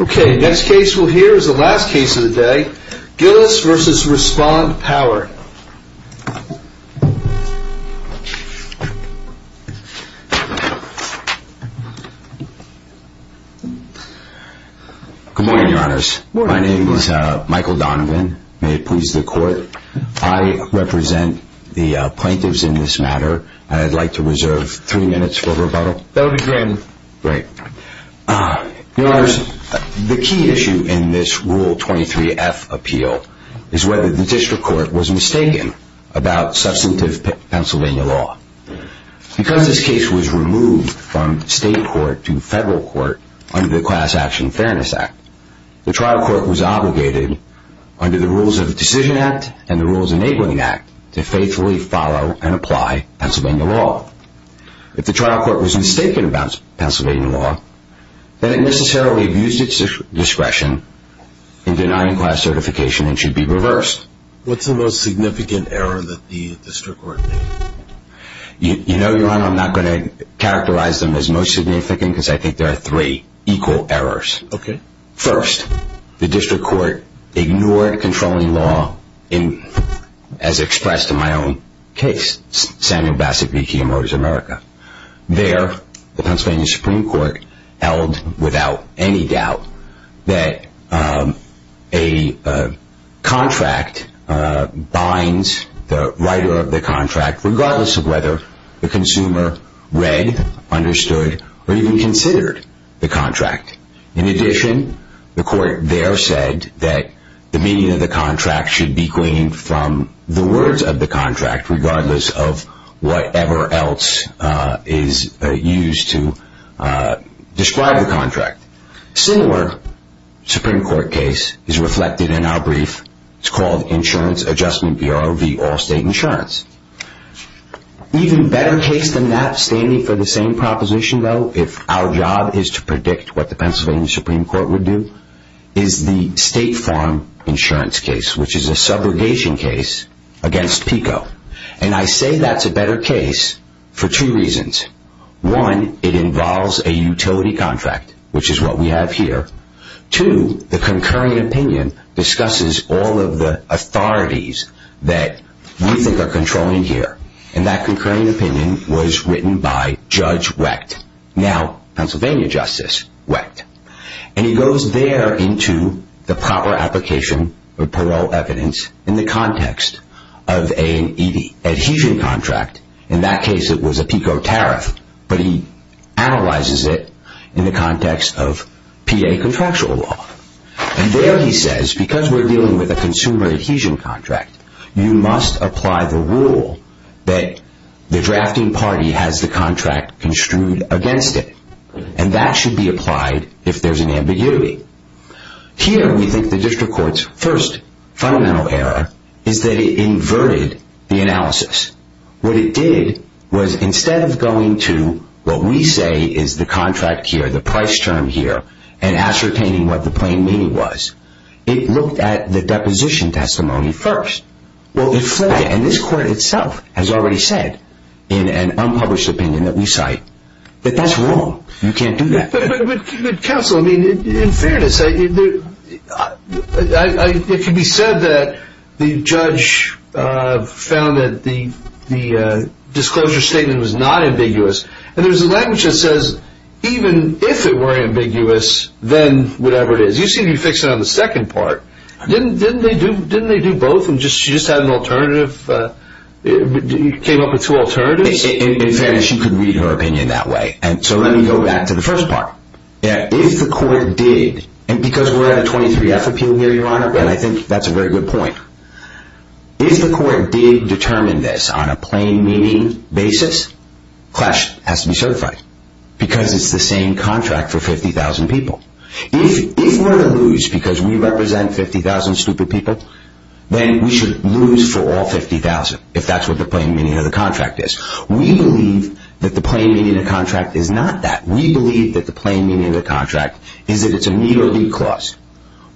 Okay, next case we'll hear is the last case of the day, Gillis v. Respond Power. Good morning, your honors. My name is Michael Donovan, may it please the court. I represent the plaintiffs in this matter, and I'd like to reserve three minutes for rebuttal. That'll be grand. Your honors, the key issue in this Rule 23F appeal is whether the district court was mistaken about substantive Pennsylvania law. Because this case was removed from state court to federal court under the Class Action Fairness Act, the trial court was obligated, under the rules of the Decision Act and the Rules Enabling Act, to faithfully follow and apply Pennsylvania law. If the trial court was mistaken about Pennsylvania law, then it necessarily abused its discretion in denying class certification and should be reversed. What's the most significant error that the district court made? You know, your honor, I'm not going to characterize them as most significant because I think there are three equal errors. Okay. First, the district court ignored controlling law as expressed in my own case, Samuel Bassett v. Kia Motors America. There, the Pennsylvania Supreme Court held without any doubt that a contract binds the writer of the contract, regardless of whether the consumer read, understood, or even considered the contract. In addition, the court there said that the meaning of the contract should be gleaned from the words of the contract, regardless of whatever else is used to describe the contract. A similar Supreme Court case is reflected in our brief. It's called Insurance Adjustment Bureau v. Allstate Insurance. Even better case than that, standing for the same proposition though, if our job is to predict what the Pennsylvania Supreme Court would do, is the State Farm Insurance case, which is a subrogation case against PICO. And I say that's a better case for two reasons. One, it involves a utility contract, which is what we have here. Two, the concurring opinion discusses all of the authorities that we think are controlling here. And that concurring opinion was written by Judge Wecht, now Pennsylvania Justice Wecht. And he goes there into the proper application of parole evidence in the context of an adhesion contract. In that case it was a PICO tariff, but he analyzes it in the context of PA contractual law. And there he says, because we're dealing with a consumer adhesion contract, you must apply the rule that the drafting party has the contract construed against it. And that should be applied if there's an ambiguity. Here we think the district court's first fundamental error is that it inverted the analysis. What it did was instead of going to what we say is the contract here, the price term here, and ascertaining what the plain meaning was, it looked at the deposition testimony first. And this court itself has already said, in an unpublished opinion that we cite, that that's wrong. You can't do that. But counsel, in fairness, it can be said that the judge found that the disclosure statement was not ambiguous. And there's a language that says, even if it were ambiguous, then whatever it is. You seem to be fixing it on the second part. Didn't they do both and she just had an alternative, came up with two alternatives? In fairness, she could read her opinion that way. And so let me go back to the first part. If the court did, and because we're at a 23-F appeal here, Your Honor, and I think that's a very good point. If the court did determine this on a plain meaning basis, Clash has to be certified because it's the same contract for 50,000 people. If we're to lose because we represent 50,000 stupid people, then we should lose for all 50,000 if that's what the plain meaning of the contract is. We believe that the plain meaning of the contract is not that. We believe that the plain meaning of the contract is that it's a meet or beat clause.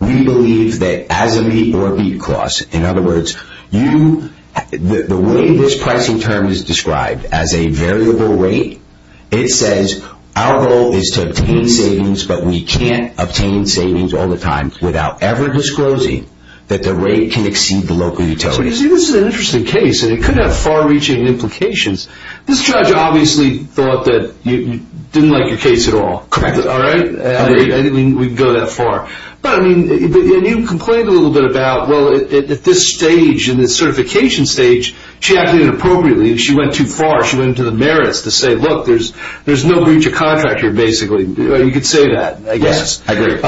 We believe that as a meet or beat clause, in other words, the way this pricing term is described as a variable rate, it says our goal is to obtain savings, but we can't obtain savings all the time without ever disclosing that the rate can exceed the local utility. But you see, this is an interesting case, and it could have far-reaching implications. This judge obviously thought that you didn't like your case at all. Correct. All right? I agree. I think we can go that far. But, I mean, and you complained a little bit about, well, at this stage, in this certification stage, she acted inappropriately. She went too far. She went into the merits to say, look, there's no breach of contract here, basically. You could say that, I guess. Yes, I agree.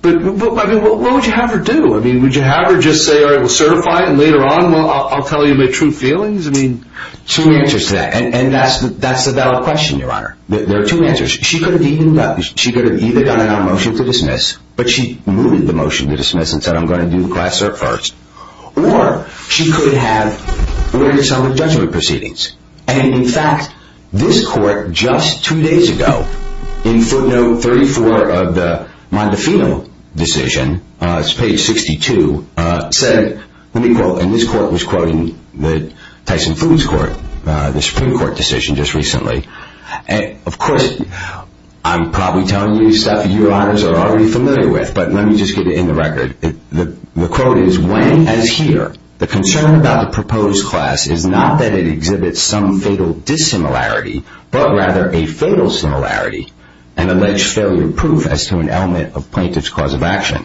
But, I mean, what would you have her do? I mean, would you have her just say, all right, we'll certify it, and later on I'll tell you my true feelings? I mean, two answers to that. And that's the valid question, Your Honor. There are two answers. She could have either done a motion to dismiss, but she moved the motion to dismiss and said, I'm going to do the class cert first. Or she could have ordered some of the judgment proceedings. And, in fact, this court just two days ago, in footnote 34 of the Mondefino decision, it's page 62, said, let me quote, and this court was quoting the Tyson Foods Court, the Supreme Court decision just recently. And, of course, I'm probably telling you stuff that you, Your Honors, are already familiar with. But let me just get it in the record. The quote is, when, as here, the concern about the proposed class is not that it exhibits some fatal dissimilarity, but rather a fatal similarity and alleged failure proof as to an element of plaintiff's cause of action.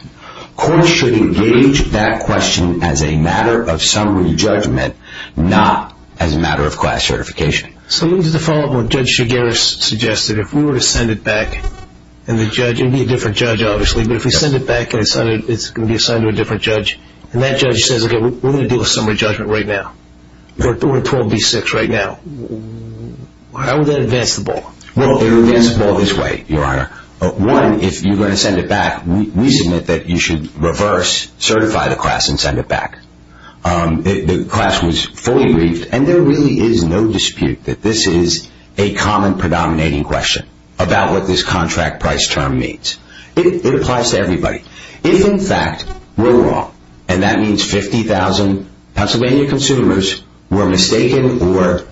Courts should engage that question as a matter of summary judgment, not as a matter of class certification. So let me just follow up on what Judge Shigera suggested. If we were to send it back and the judge, it would be a different judge, obviously, but if we send it back and it's going to be assigned to a different judge, and that judge says, okay, we're going to deal with summary judgment right now, or 12B6 right now, how would that advance the ball? Well, it would advance the ball this way, Your Honor. One, if you're going to send it back, we submit that you should reverse certify the class and send it back. The class was fully briefed, and there really is no dispute that this is a common predominating question about what this contract price term means. It applies to everybody. If, in fact, we're wrong, and that means 50,000 Pennsylvania consumers were mistaken or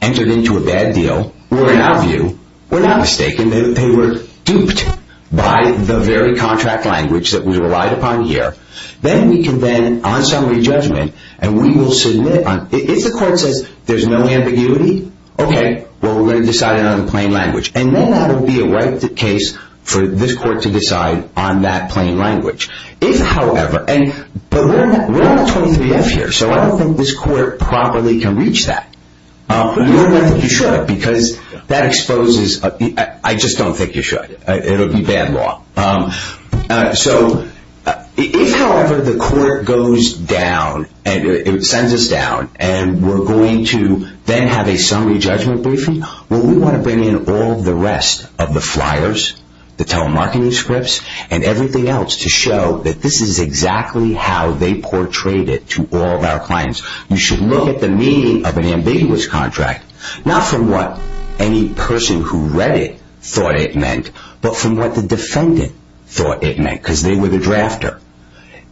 entered into a bad deal, or in our view, were not mistaken, they were duped by the very contract language that we relied upon here, then we can then, on summary judgment, and we will submit on, if the court says there's no ambiguity, okay, well, we're going to decide it on the plain language. And then that will be a right case for this court to decide on that plain language. If, however, but we're on a 23-F here, so I don't think this court properly can reach that. You wouldn't think you should because that exposes, I just don't think you should. It would be bad law. So if, however, the court goes down, and it sends us down, and we're going to then have a summary judgment briefing, well, we want to bring in all the rest of the flyers, the telemarketing scripts, and everything else to show that this is exactly how they portrayed it to all of our clients. You should look at the meaning of an ambiguous contract, not from what any person who read it thought it meant, but from what the defendant thought it meant because they were the drafter.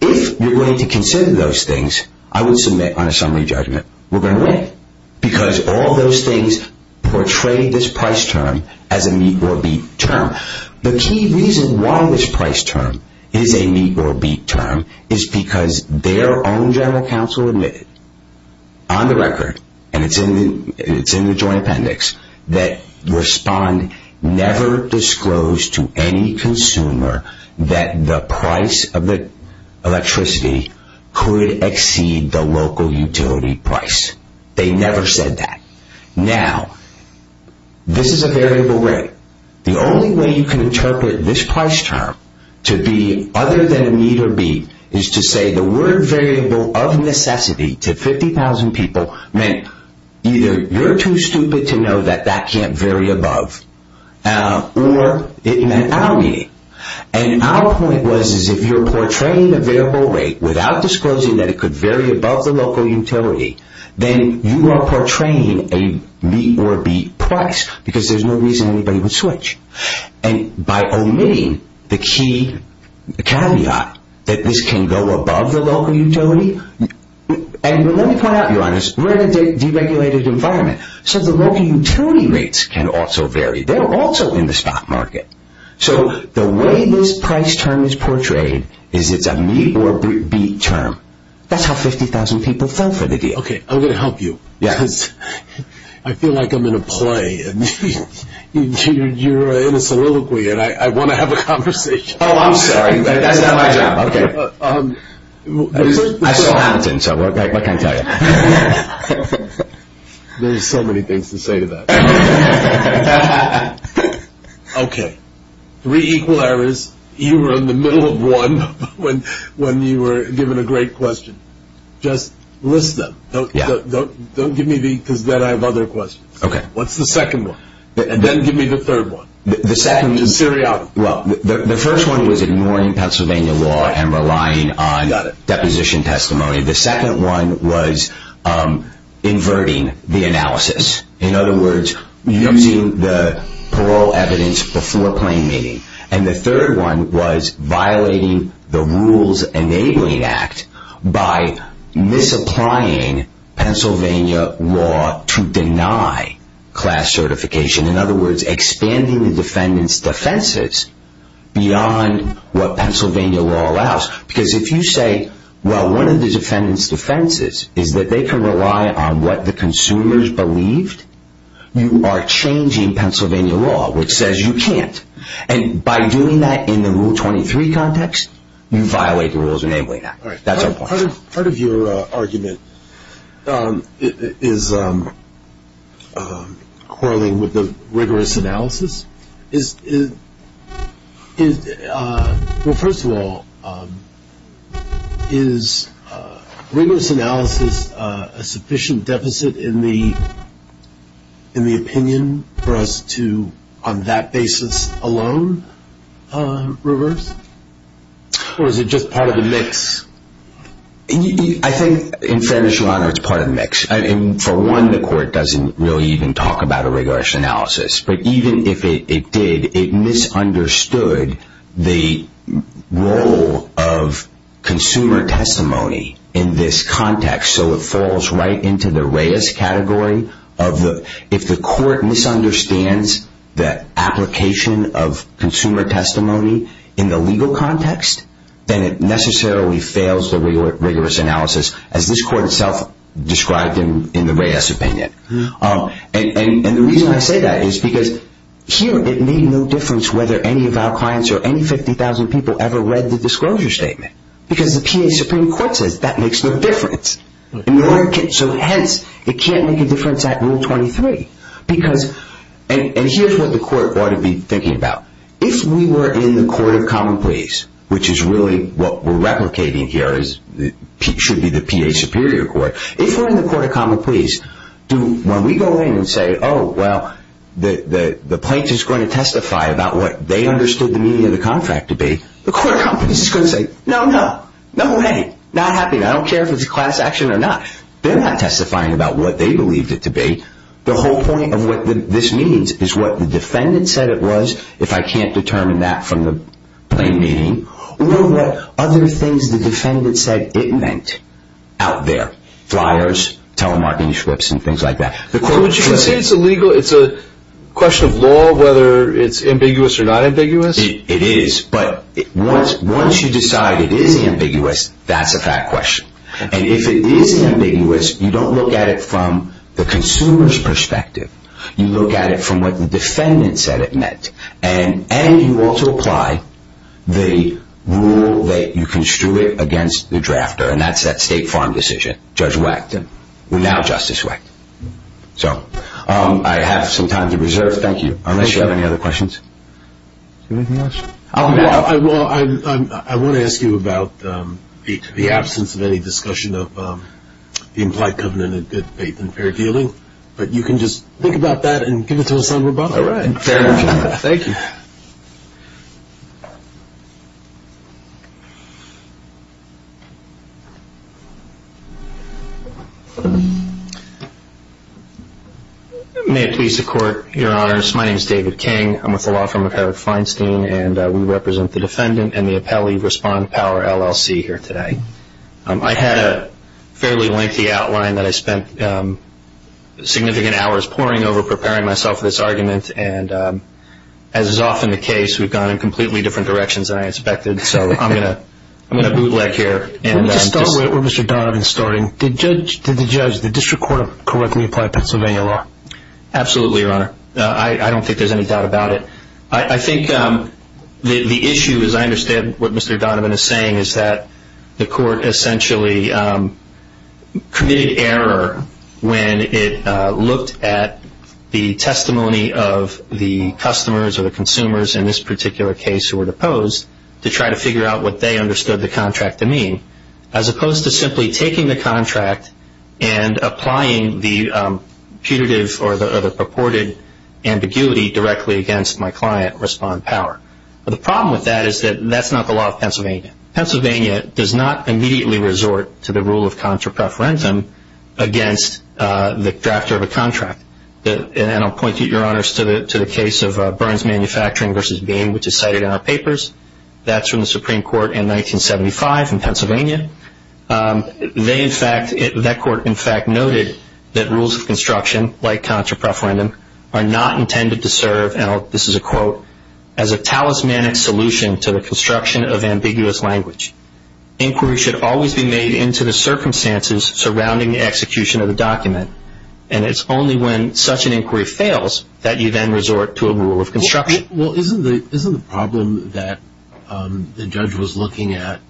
If you're going to consider those things, I would submit on a summary judgment, we're going to win because all those things portray this price term as a meet-or-beat term. The key reason why this price term is a meet-or-beat term is because their own general counsel admitted, on the record, and it's in the joint appendix, that Respond never disclosed to any consumer that the price of the electricity could exceed the local utility price. They never said that. Now, this is a variable rate. The only way you can interpret this price term to be other than a meet-or-beat is to say the word variable of necessity to 50,000 people meant either you're too stupid to know that that can't vary above or it meant our meeting. Our point was if you're portraying a variable rate without disclosing that it could vary above the local utility, then you are portraying a meet-or-beat price because there's no reason anybody would switch. By omitting the key caveat that this can go above the local utility, and let me point out, we're in a deregulated environment, so the local utility rates can also vary. They're also in the stock market. So the way this price term is portrayed is it's a meet-or-beat term. That's how 50,000 people fell for the deal. Okay, I'm going to help you because I feel like I'm in a play. You're in a soliloquy, and I want to have a conversation. Oh, I'm sorry. That's not my job. Okay. I saw Hamilton, so what can I tell you? There's so many things to say to that. Okay, three equal errors. You were in the middle of one when you were given a great question. Just list them. Don't give me the because then I have other questions. Okay. What's the second one? And then give me the third one. The second one. The first one was ignoring Pennsylvania law and relying on deposition testimony. The second one was inverting the analysis. In other words, using the parole evidence before plain meaning. And the third one was violating the Rules Enabling Act by misapplying Pennsylvania law to deny class certification. In other words, expanding the defendant's defenses beyond what Pennsylvania law allows. Because if you say, well, one of the defendant's defenses is that they can rely on what the consumers believed, you are changing Pennsylvania law, which says you can't. And by doing that in the Rule 23 context, you violate the Rules Enabling Act. That's our point. Part of your argument is quarreling with the rigorous analysis. Well, first of all, is rigorous analysis a sufficient deficit in the opinion for us to, on that basis alone, reverse? Or is it just part of the mix? I think, in fairness and honor, it's part of the mix. For one, the court doesn't really even talk about a rigorous analysis. But even if it did, it misunderstood the role of consumer testimony in this context. So it falls right into the Reyes category. If the court misunderstands the application of consumer testimony in the legal context, then it necessarily fails the rigorous analysis, as this court itself described in the Reyes opinion. And the reason I say that is because here it made no difference whether any of our clients or any 50,000 people ever read the disclosure statement. Because the PA Supreme Court says that makes no difference. So hence, it can't make a difference at Rule 23. And here's what the court ought to be thinking about. If we were in the court of common pleas, which is really what we're replicating here, because it should be the PA Superior Court. If we're in the court of common pleas, when we go in and say, oh, well, the plaintiff's going to testify about what they understood the meaning of the contract to be, the court of common pleas is going to say, no, no, no way, not happening. I don't care if it's a class action or not. They're not testifying about what they believed it to be. The whole point of what this means is what the defendant said it was, if I can't determine that from the plain meaning, will there be other things the defendant said it meant out there? Flyers, telemarketing slips, and things like that. So would you say it's a question of law whether it's ambiguous or not ambiguous? It is. But once you decide it is ambiguous, that's a fact question. And if it is ambiguous, you don't look at it from the consumer's perspective. You look at it from what the defendant said it meant. And you also apply the rule that you construed against the drafter, and that's that State Farm decision, Judge Wackton, now Justice Wackton. So I have some time to reserve. Thank you. Unless you have any other questions. Anything else? Well, I want to ask you about the absence of any discussion of the implied covenant of good faith and fair dealing. But you can just think about that and give it to us on rebuttal. All right. Thank you. May it please the Court, Your Honors. My name is David King. I'm with the law firm of Eric Feinstein, and we represent the defendant and the appellee respond power LLC here today. I had a fairly lengthy outline that I spent significant hours poring over, preparing myself for this argument. And as is often the case, we've gone in completely different directions than I expected. So I'm going to bootleg here. Let me just start where Mr. Donovan is starting. Did the judge, did the district court correctly apply Pennsylvania law? Absolutely, Your Honor. I don't think there's any doubt about it. I think the issue, as I understand what Mr. Donovan is saying, is that the court essentially committed error when it looked at the testimony of the customers or the consumers in this particular case who were deposed to try to figure out what they understood the contract to mean, as opposed to simply taking the contract and applying the putative or the purported ambiguity directly against my client respond power. But the problem with that is that that's not the law of Pennsylvania. Pennsylvania does not immediately resort to the rule of contra preferentum against the drafter of a contract. And I'll point you, Your Honors, to the case of Burns Manufacturing v. Bain, which is cited in our papers. That's from the Supreme Court in 1975 in Pennsylvania. They in fact, that court in fact noted that rules of construction, like contra preferentum, are not intended to serve, and this is a quote, as a talismanic solution to the construction of ambiguous language. Inquiry should always be made into the circumstances surrounding the execution of the document. And it's only when such an inquiry fails that you then resort to a rule of construction. Well, isn't the problem that the judge was looking at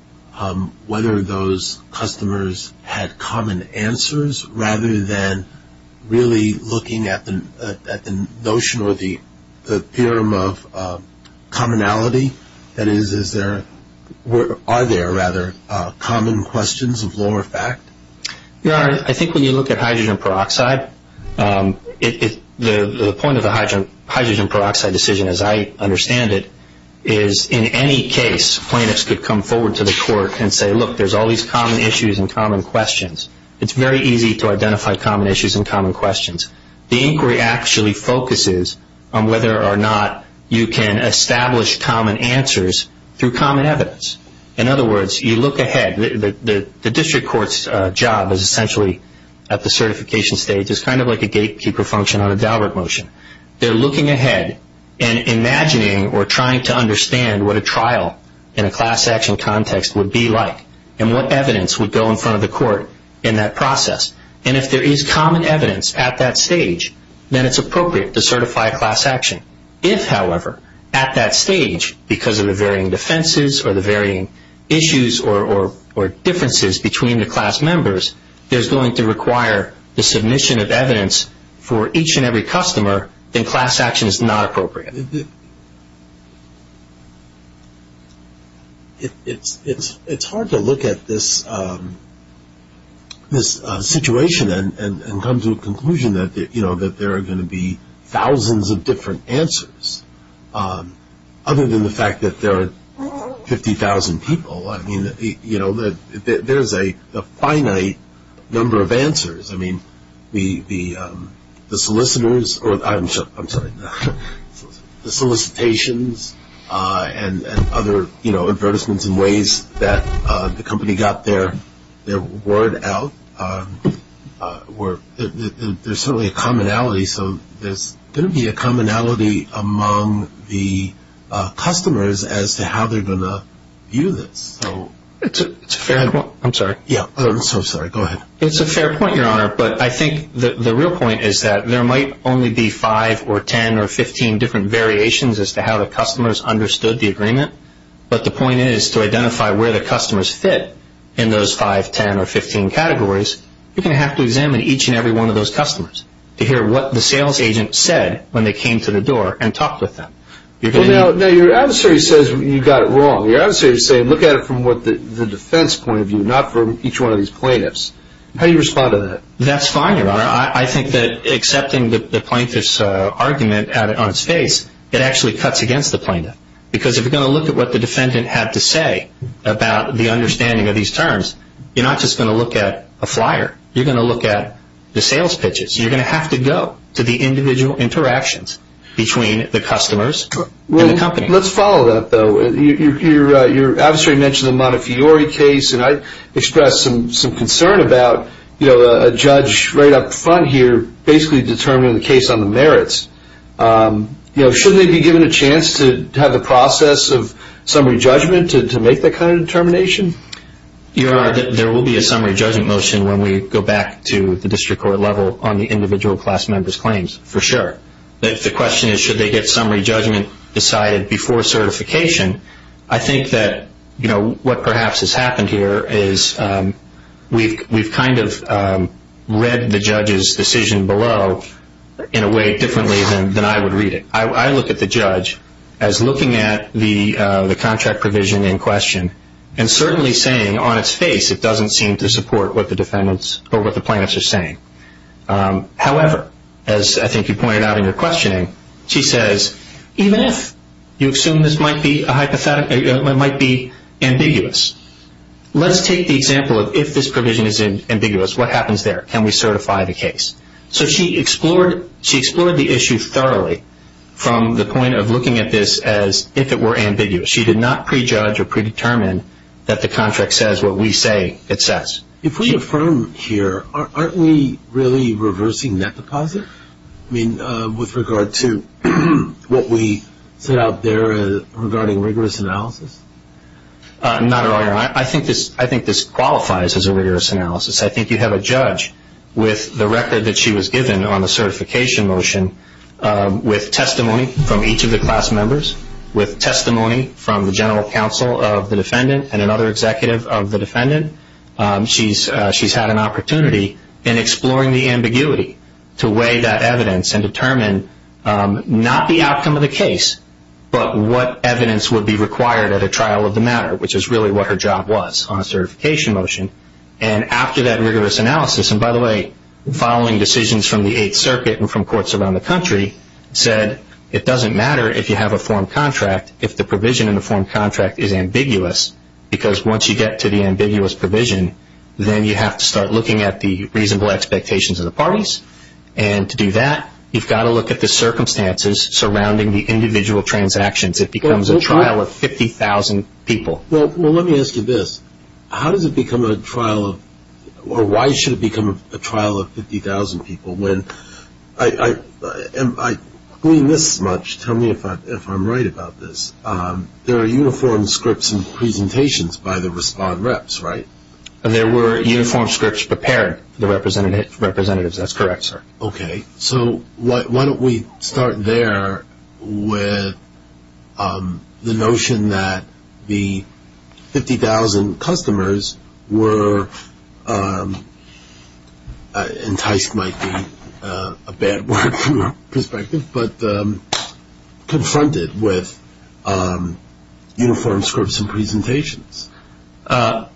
whether those customers had common answers rather than really looking at the notion or the theorem of commonality? That is, are there rather common questions of law or fact? Your Honor, I think when you look at hydrogen peroxide, the point of the hydrogen peroxide decision, as I understand it, is in any case plaintiffs could come forward to the court and say, look, there's all these common issues and common questions. It's very easy to identify common issues and common questions. The inquiry actually focuses on whether or not you can establish common answers through common evidence. In other words, you look ahead. The district court's job is essentially at the certification stage. It's kind of like a gatekeeper function on a Daubert motion. They're looking ahead and imagining or trying to understand what a trial in a class action context would be like and what evidence would go in front of the court in that process. And if there is common evidence at that stage, then it's appropriate to certify a class action. If, however, at that stage, because of the varying defenses or the varying issues or differences between the class members, there's going to require the submission of evidence for each and every customer, then class action is not appropriate. It's hard to look at this situation and come to a conclusion that, you know, that there are going to be thousands of different answers, other than the fact that there are 50,000 people. I mean, you know, there's a finite number of answers. I mean, the solicitors or I'm sorry, the solicitations and other, you know, advertisements and ways that the company got their word out, there's certainly a commonality. So there's going to be a commonality among the customers as to how they're going to view this. It's a fair point. I'm sorry. I'm so sorry. Go ahead. It's a fair point, Your Honor. But I think the real point is that there might only be five or 10 or 15 different variations as to how the customers understood the agreement. But the point is to identify where the customers fit in those five, 10, or 15 categories, you're going to have to examine each and every one of those customers to hear what the sales agent said when they came to the door and talked with them. Now, your adversary says you got it wrong. Your adversary says look at it from the defense point of view, not from each one of these plaintiffs. How do you respond to that? That's fine, Your Honor. I think that accepting the plaintiff's argument on its face, it actually cuts against the plaintiff. Because if you're going to look at what the defendant had to say about the understanding of these terms, you're not just going to look at a flyer. You're going to look at the sales pitches. You're going to have to go to the individual interactions between the customers and the company. Let's follow that, though. Your adversary mentioned the Montefiore case, and I expressed some concern about a judge right up front here basically determining the case on the merits. Shouldn't they be given a chance to have the process of summary judgment to make that kind of determination? Your Honor, there will be a summary judgment motion when we go back to the district court level on the individual class member's claims, for sure. If the question is should they get summary judgment decided before certification, I think that what perhaps has happened here is we've kind of read the judge's decision below in a way differently than I would read it. I look at the judge as looking at the contract provision in question and certainly saying on its face it doesn't seem to support what the plaintiffs are saying. However, as I think you pointed out in your questioning, she says even if you assume this might be ambiguous, let's take the example of if this provision is ambiguous, what happens there? Can we certify the case? So she explored the issue thoroughly from the point of looking at this as if it were ambiguous. She did not prejudge or predetermine that the contract says what we say it says. If we affirm here, aren't we really reversing net deposit? I mean, with regard to what we set out there regarding rigorous analysis? Not at all, Your Honor. I think this qualifies as a rigorous analysis. I think you have a judge with the record that she was given on the certification motion, with testimony from each of the class members, with testimony from the general counsel of the defendant and another executive of the defendant. She's had an opportunity in exploring the ambiguity to weigh that evidence and determine not the outcome of the case but what evidence would be required at a trial of the matter, which is really what her job was on a certification motion. And after that rigorous analysis, and by the way, following decisions from the Eighth Circuit and from courts around the country, said it doesn't matter if you have a form contract if the provision in the form contract is ambiguous because once you get to the ambiguous provision, then you have to start looking at the reasonable expectations of the parties. And to do that, you've got to look at the circumstances surrounding the individual transactions. It becomes a trial of 50,000 people. Well, let me ask you this. How does it become a trial of or why should it become a trial of 50,000 people? I mean this much. Tell me if I'm right about this. There are uniform scripts and presentations by the respond reps, right? And there were uniform scripts prepared for the representatives. That's correct, sir. Okay. So why don't we start there with the notion that the 50,000 customers were enticed might be a bad word from our perspective, but confronted with uniform scripts and presentations.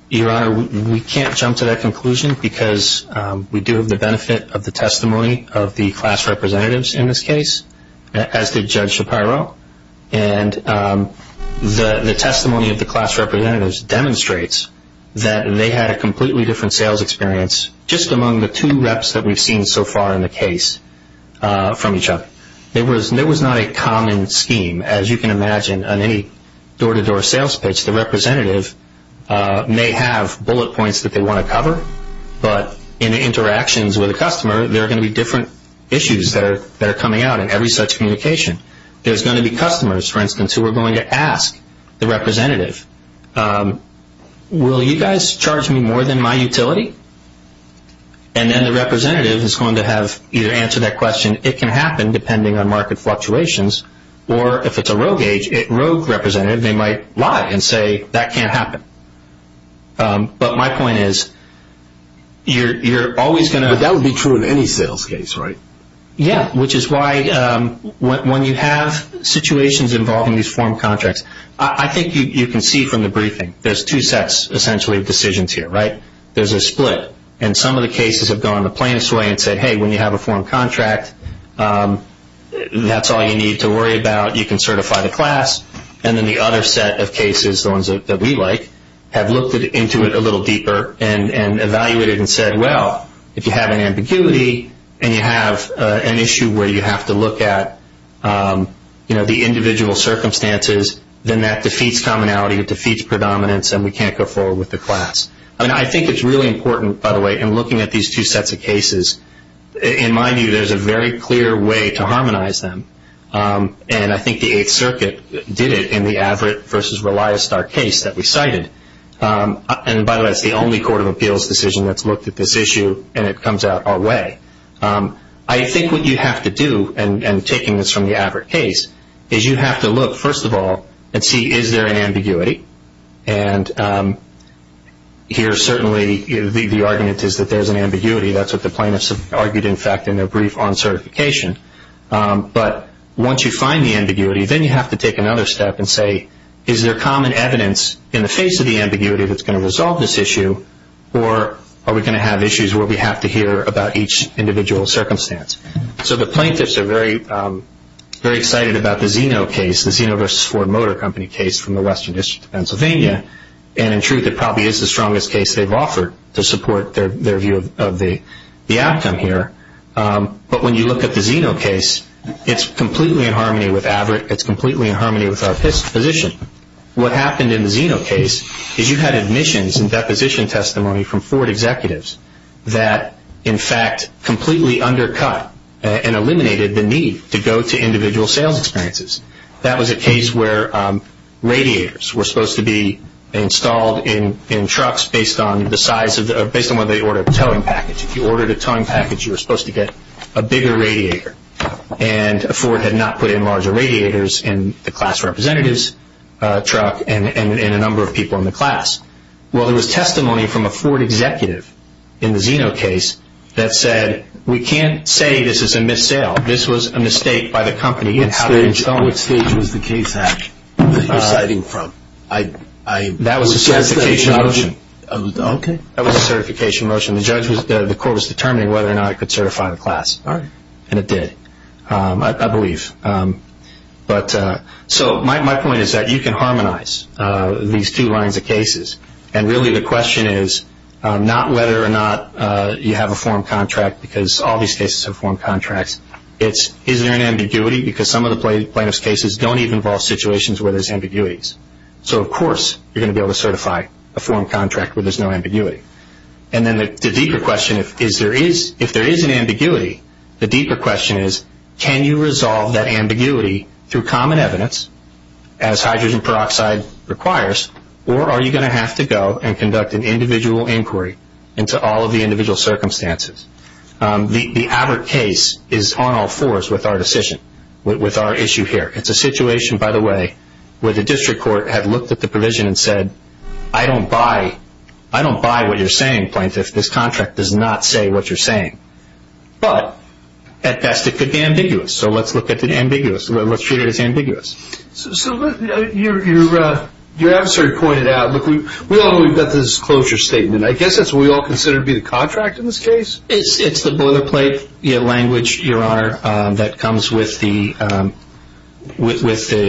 Your Honor, we can't jump to that conclusion because we do have the benefit of the testimony of the class representatives in this case, as did Judge Shapiro. And the testimony of the class representatives demonstrates that they had a completely different sales experience just among the two reps that we've seen so far in the case from each other. There was not a common scheme. As you can imagine, on any door-to-door sales pitch, the representative may have bullet points that they want to cover, but in the interactions with the customer there are going to be different issues that are coming out in every such communication. There's going to be customers, for instance, who are going to ask the representative, will you guys charge me more than my utility? And then the representative is going to have either answer that question, and it can happen depending on market fluctuations, or if it's a rogue representative, they might lie and say that can't happen. But my point is you're always going to – But that would be true in any sales case, right? Yeah, which is why when you have situations involving these form contracts, I think you can see from the briefing there's two sets, essentially, of decisions here, right? There's a split, and some of the cases have gone the plainest way and said, hey, when you have a form contract, that's all you need to worry about. You can certify the class. And then the other set of cases, the ones that we like, have looked into it a little deeper and evaluated it and said, well, if you have an ambiguity and you have an issue where you have to look at the individual circumstances, then that defeats commonality. It defeats predominance, and we can't go forward with the class. I mean, I think it's really important, by the way, in looking at these two sets of cases, in my view there's a very clear way to harmonize them, and I think the Eighth Circuit did it in the Averitt v. Reliostar case that we cited. And, by the way, that's the only court of appeals decision that's looked at this issue, and it comes out our way. I think what you have to do, and taking this from the Averitt case, is you have to look, first of all, and see is there an ambiguity? And here, certainly, the argument is that there's an ambiguity. That's what the plaintiffs have argued, in fact, in their brief on certification. But once you find the ambiguity, then you have to take another step and say, is there common evidence in the face of the ambiguity that's going to resolve this issue, or are we going to have issues where we have to hear about each individual circumstance? So the plaintiffs are very excited about the Zeno case, from the Western District of Pennsylvania, and in truth it probably is the strongest case they've offered to support their view of the outcome here. But when you look at the Zeno case, it's completely in harmony with Averitt. It's completely in harmony with our position. What happened in the Zeno case is you had admissions and deposition testimony from Ford executives that, in fact, completely undercut and eliminated the need to go to individual sales experiences. That was a case where radiators were supposed to be installed in trucks based on the size, based on whether they ordered a towing package. If you ordered a towing package, you were supposed to get a bigger radiator. And Ford had not put in larger radiators in the class representative's truck and in a number of people in the class. Well, there was testimony from a Ford executive in the Zeno case that said, we can't say this is a missale. This was a mistake by the company. Which stage was the case at that you're citing from? That was a certification motion. Okay. That was a certification motion. The court was determining whether or not it could certify the class. All right. And it did, I believe. So my point is that you can harmonize these two lines of cases. And really the question is not whether or not you have a form contract, because all these cases have form contracts. It's, is there an ambiguity, because some of the plaintiff's cases don't even involve situations where there's ambiguities. So, of course, you're going to be able to certify a form contract where there's no ambiguity. And then the deeper question, if there is an ambiguity, the deeper question is, can you resolve that ambiguity through common evidence, as hydrogen peroxide requires, or are you going to have to go and conduct an individual inquiry into all of the individual circumstances? The Abbott case is on all fours with our decision, with our issue here. It's a situation, by the way, where the district court had looked at the provision and said, I don't buy, I don't buy what you're saying, plaintiff. This contract does not say what you're saying. But at best it could be ambiguous. So let's look at the ambiguous. Let's treat it as ambiguous. So your adversary pointed out, look, we all know we've got this closure statement. I guess that's what we all consider to be the contract in this case? It's the boilerplate language, Your Honor, that comes with the plaintiff's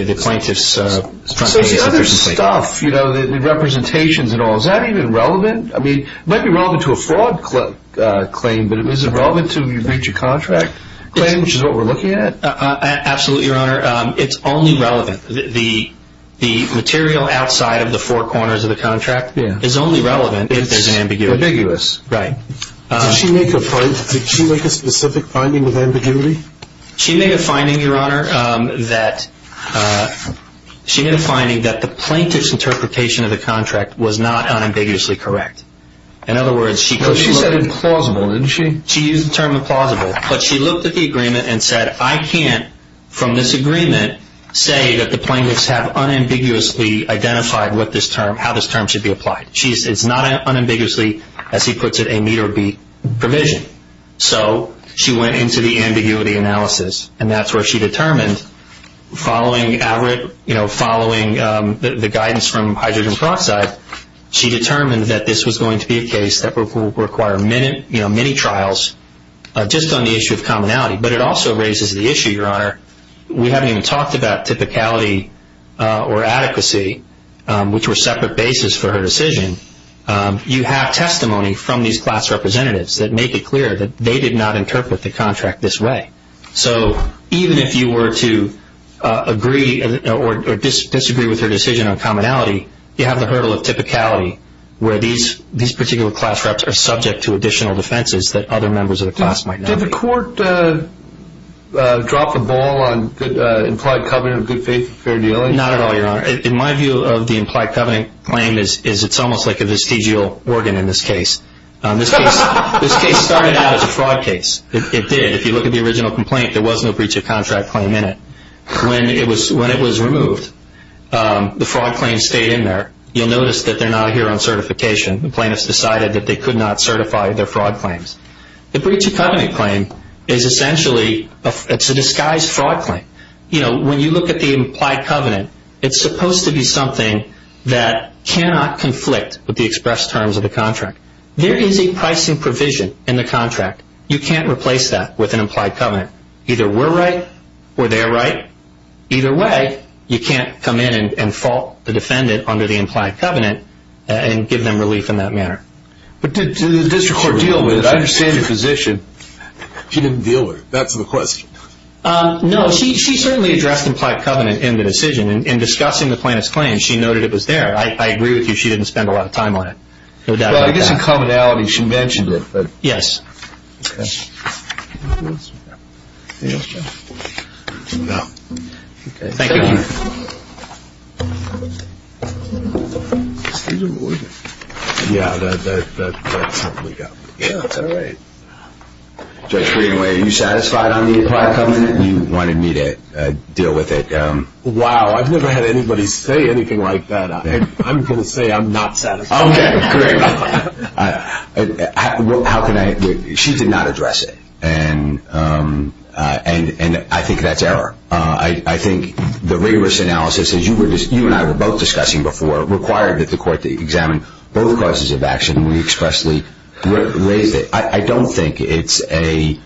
front page. So it's the other stuff, you know, the representations and all. Is that even relevant? I mean, it might be relevant to a fraud claim, but is it relevant to a breach of contract claim, which is what we're looking at? Absolutely, Your Honor. It's only relevant. The material outside of the four corners of the contract is only relevant if there's an ambiguity. It's ambiguous. Right. Did she make a point? Did she make a specific finding with ambiguity? She made a finding, Your Honor, that she made a finding that the plaintiff's interpretation of the contract was not unambiguously correct. No, she said implausible, didn't she? She used the term implausible, but she looked at the agreement and said, I can't, from this agreement, say that the plaintiffs have unambiguously identified how this term should be applied. It's not unambiguously, as he puts it, a meet or beat provision. So she went into the ambiguity analysis, and that's where she determined, following the guidance from hydrogen peroxide, she determined that this was going to be a case that would require many trials just on the issue of commonality. But it also raises the issue, Your Honor, we haven't even talked about typicality or adequacy, which were separate bases for her decision. You have testimony from these class representatives that make it clear that they did not interpret the contract this way. So even if you were to agree or disagree with her decision on commonality, you have the hurdle of typicality where these particular class reps are subject to additional defenses that other members of the class might not be. Did the court drop the ball on implied covenant of good faith and fair dealing? Not at all, Your Honor. In my view of the implied covenant claim, it's almost like a vestigial organ in this case. This case started out as a fraud case. It did. If you look at the original complaint, there was no breach of contract claim in it. When it was removed, the fraud claim stayed in there. You'll notice that they're not here on certification. The plaintiffs decided that they could not certify their fraud claims. The breach of covenant claim is essentially a disguised fraud claim. You know, when you look at the implied covenant, it's supposed to be something that cannot conflict with the express terms of the contract. There is a pricing provision in the contract. You can't replace that with an implied covenant. Either we're right or they're right. Either way, you can't come in and fault the defendant under the implied covenant and give them relief in that manner. But did the district court deal with it? I understand your position. She didn't deal with it. That's the question. No, she certainly addressed implied covenant in the decision. In discussing the plaintiff's claim, she noted it was there. I agree with you. She didn't spend a lot of time on it. No doubt about that. Well, I guess in commonality she mentioned it. Yes. Thank you. Judge Greenway, are you satisfied on the implied covenant? You wanted me to deal with it. Wow, I've never had anybody say anything like that. I'm going to say I'm not satisfied. Okay, great. She did not address it, and I think that's error. I think the rigorous analysis, as you and I were both discussing before, required that the court examine both causes of action. We expressly raised it. I don't think it's a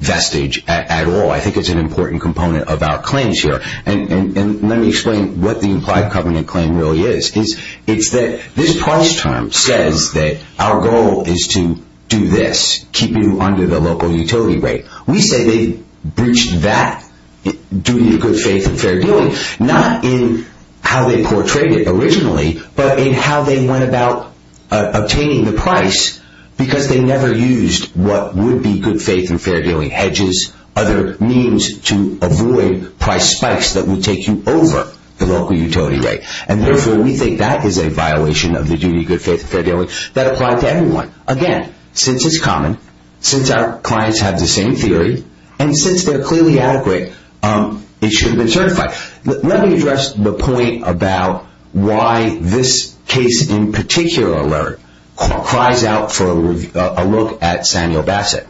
vestige at all. I think it's an important component of our claims here. And let me explain what the implied covenant claim really is. It's that this price term says that our goal is to do this, keep you under the local utility rate. We say they breached that duty of good faith and fair dealing, not in how they portrayed it originally, but in how they went about obtaining the price because they never used what would be good faith and fair dealing, hedges, other means to avoid price spikes that would take you over the local utility rate. And therefore, we think that is a violation of the duty of good faith and fair dealing that applies to everyone. Again, since it's common, since our clients have the same theory, and since they're clearly adequate, it should have been certified. Let me address the point about why this case in particular, Larry, cries out for a look at Samuel Bassett.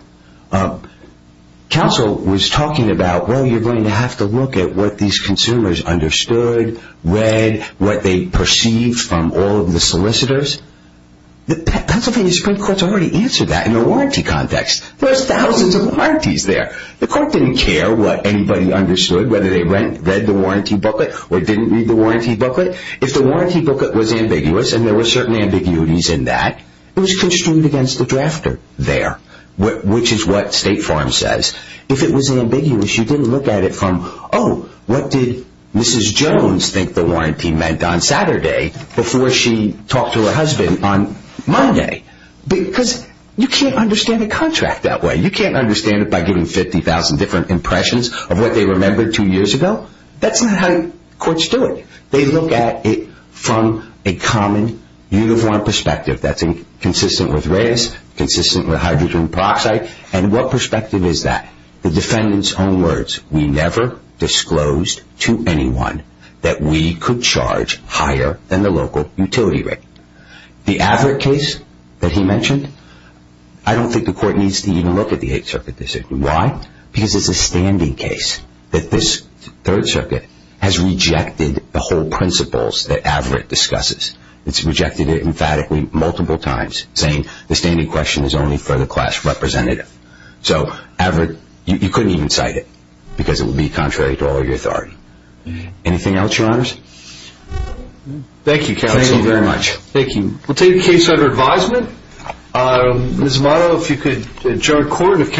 Counsel was talking about, well, you're going to have to look at what these consumers understood, read, what they perceived from all of the solicitors. The Pennsylvania Supreme Court's already answered that in a warranty context. There's thousands of warranties there. The court didn't care what anybody understood, whether they read the warranty booklet or didn't read the warranty booklet. If the warranty booklet was ambiguous, and there were certain ambiguities in that, it was constrained against the drafter there, which is what State Farm says. If it was ambiguous, you didn't look at it from, oh, what did Mrs. Jones think the warranty meant on Saturday before she talked to her husband on Monday? Because you can't understand a contract that way. You can't understand it by giving 50,000 different impressions of what they remembered two years ago. That's not how courts do it. They look at it from a common uniform perspective that's consistent with race, consistent with hydrogen peroxide, and what perspective is that? The defendant's own words, we never disclosed to anyone that we could charge higher than the local utility rate. The Averitt case that he mentioned, I don't think the court needs to even look at the Eighth Circuit decision. Why? Because it's a standing case that this Third Circuit has rejected the whole principles that Averitt discusses. It's rejected it emphatically multiple times, saying the standing question is only for the class representative. So, Averitt, you couldn't even cite it because it would be contrary to all of your authority. Anything else, your honors? Thank you, counsel. Thank you very much. Thank you. We'll take a case under advisement. Ms. Morrow, if you could adjourn court.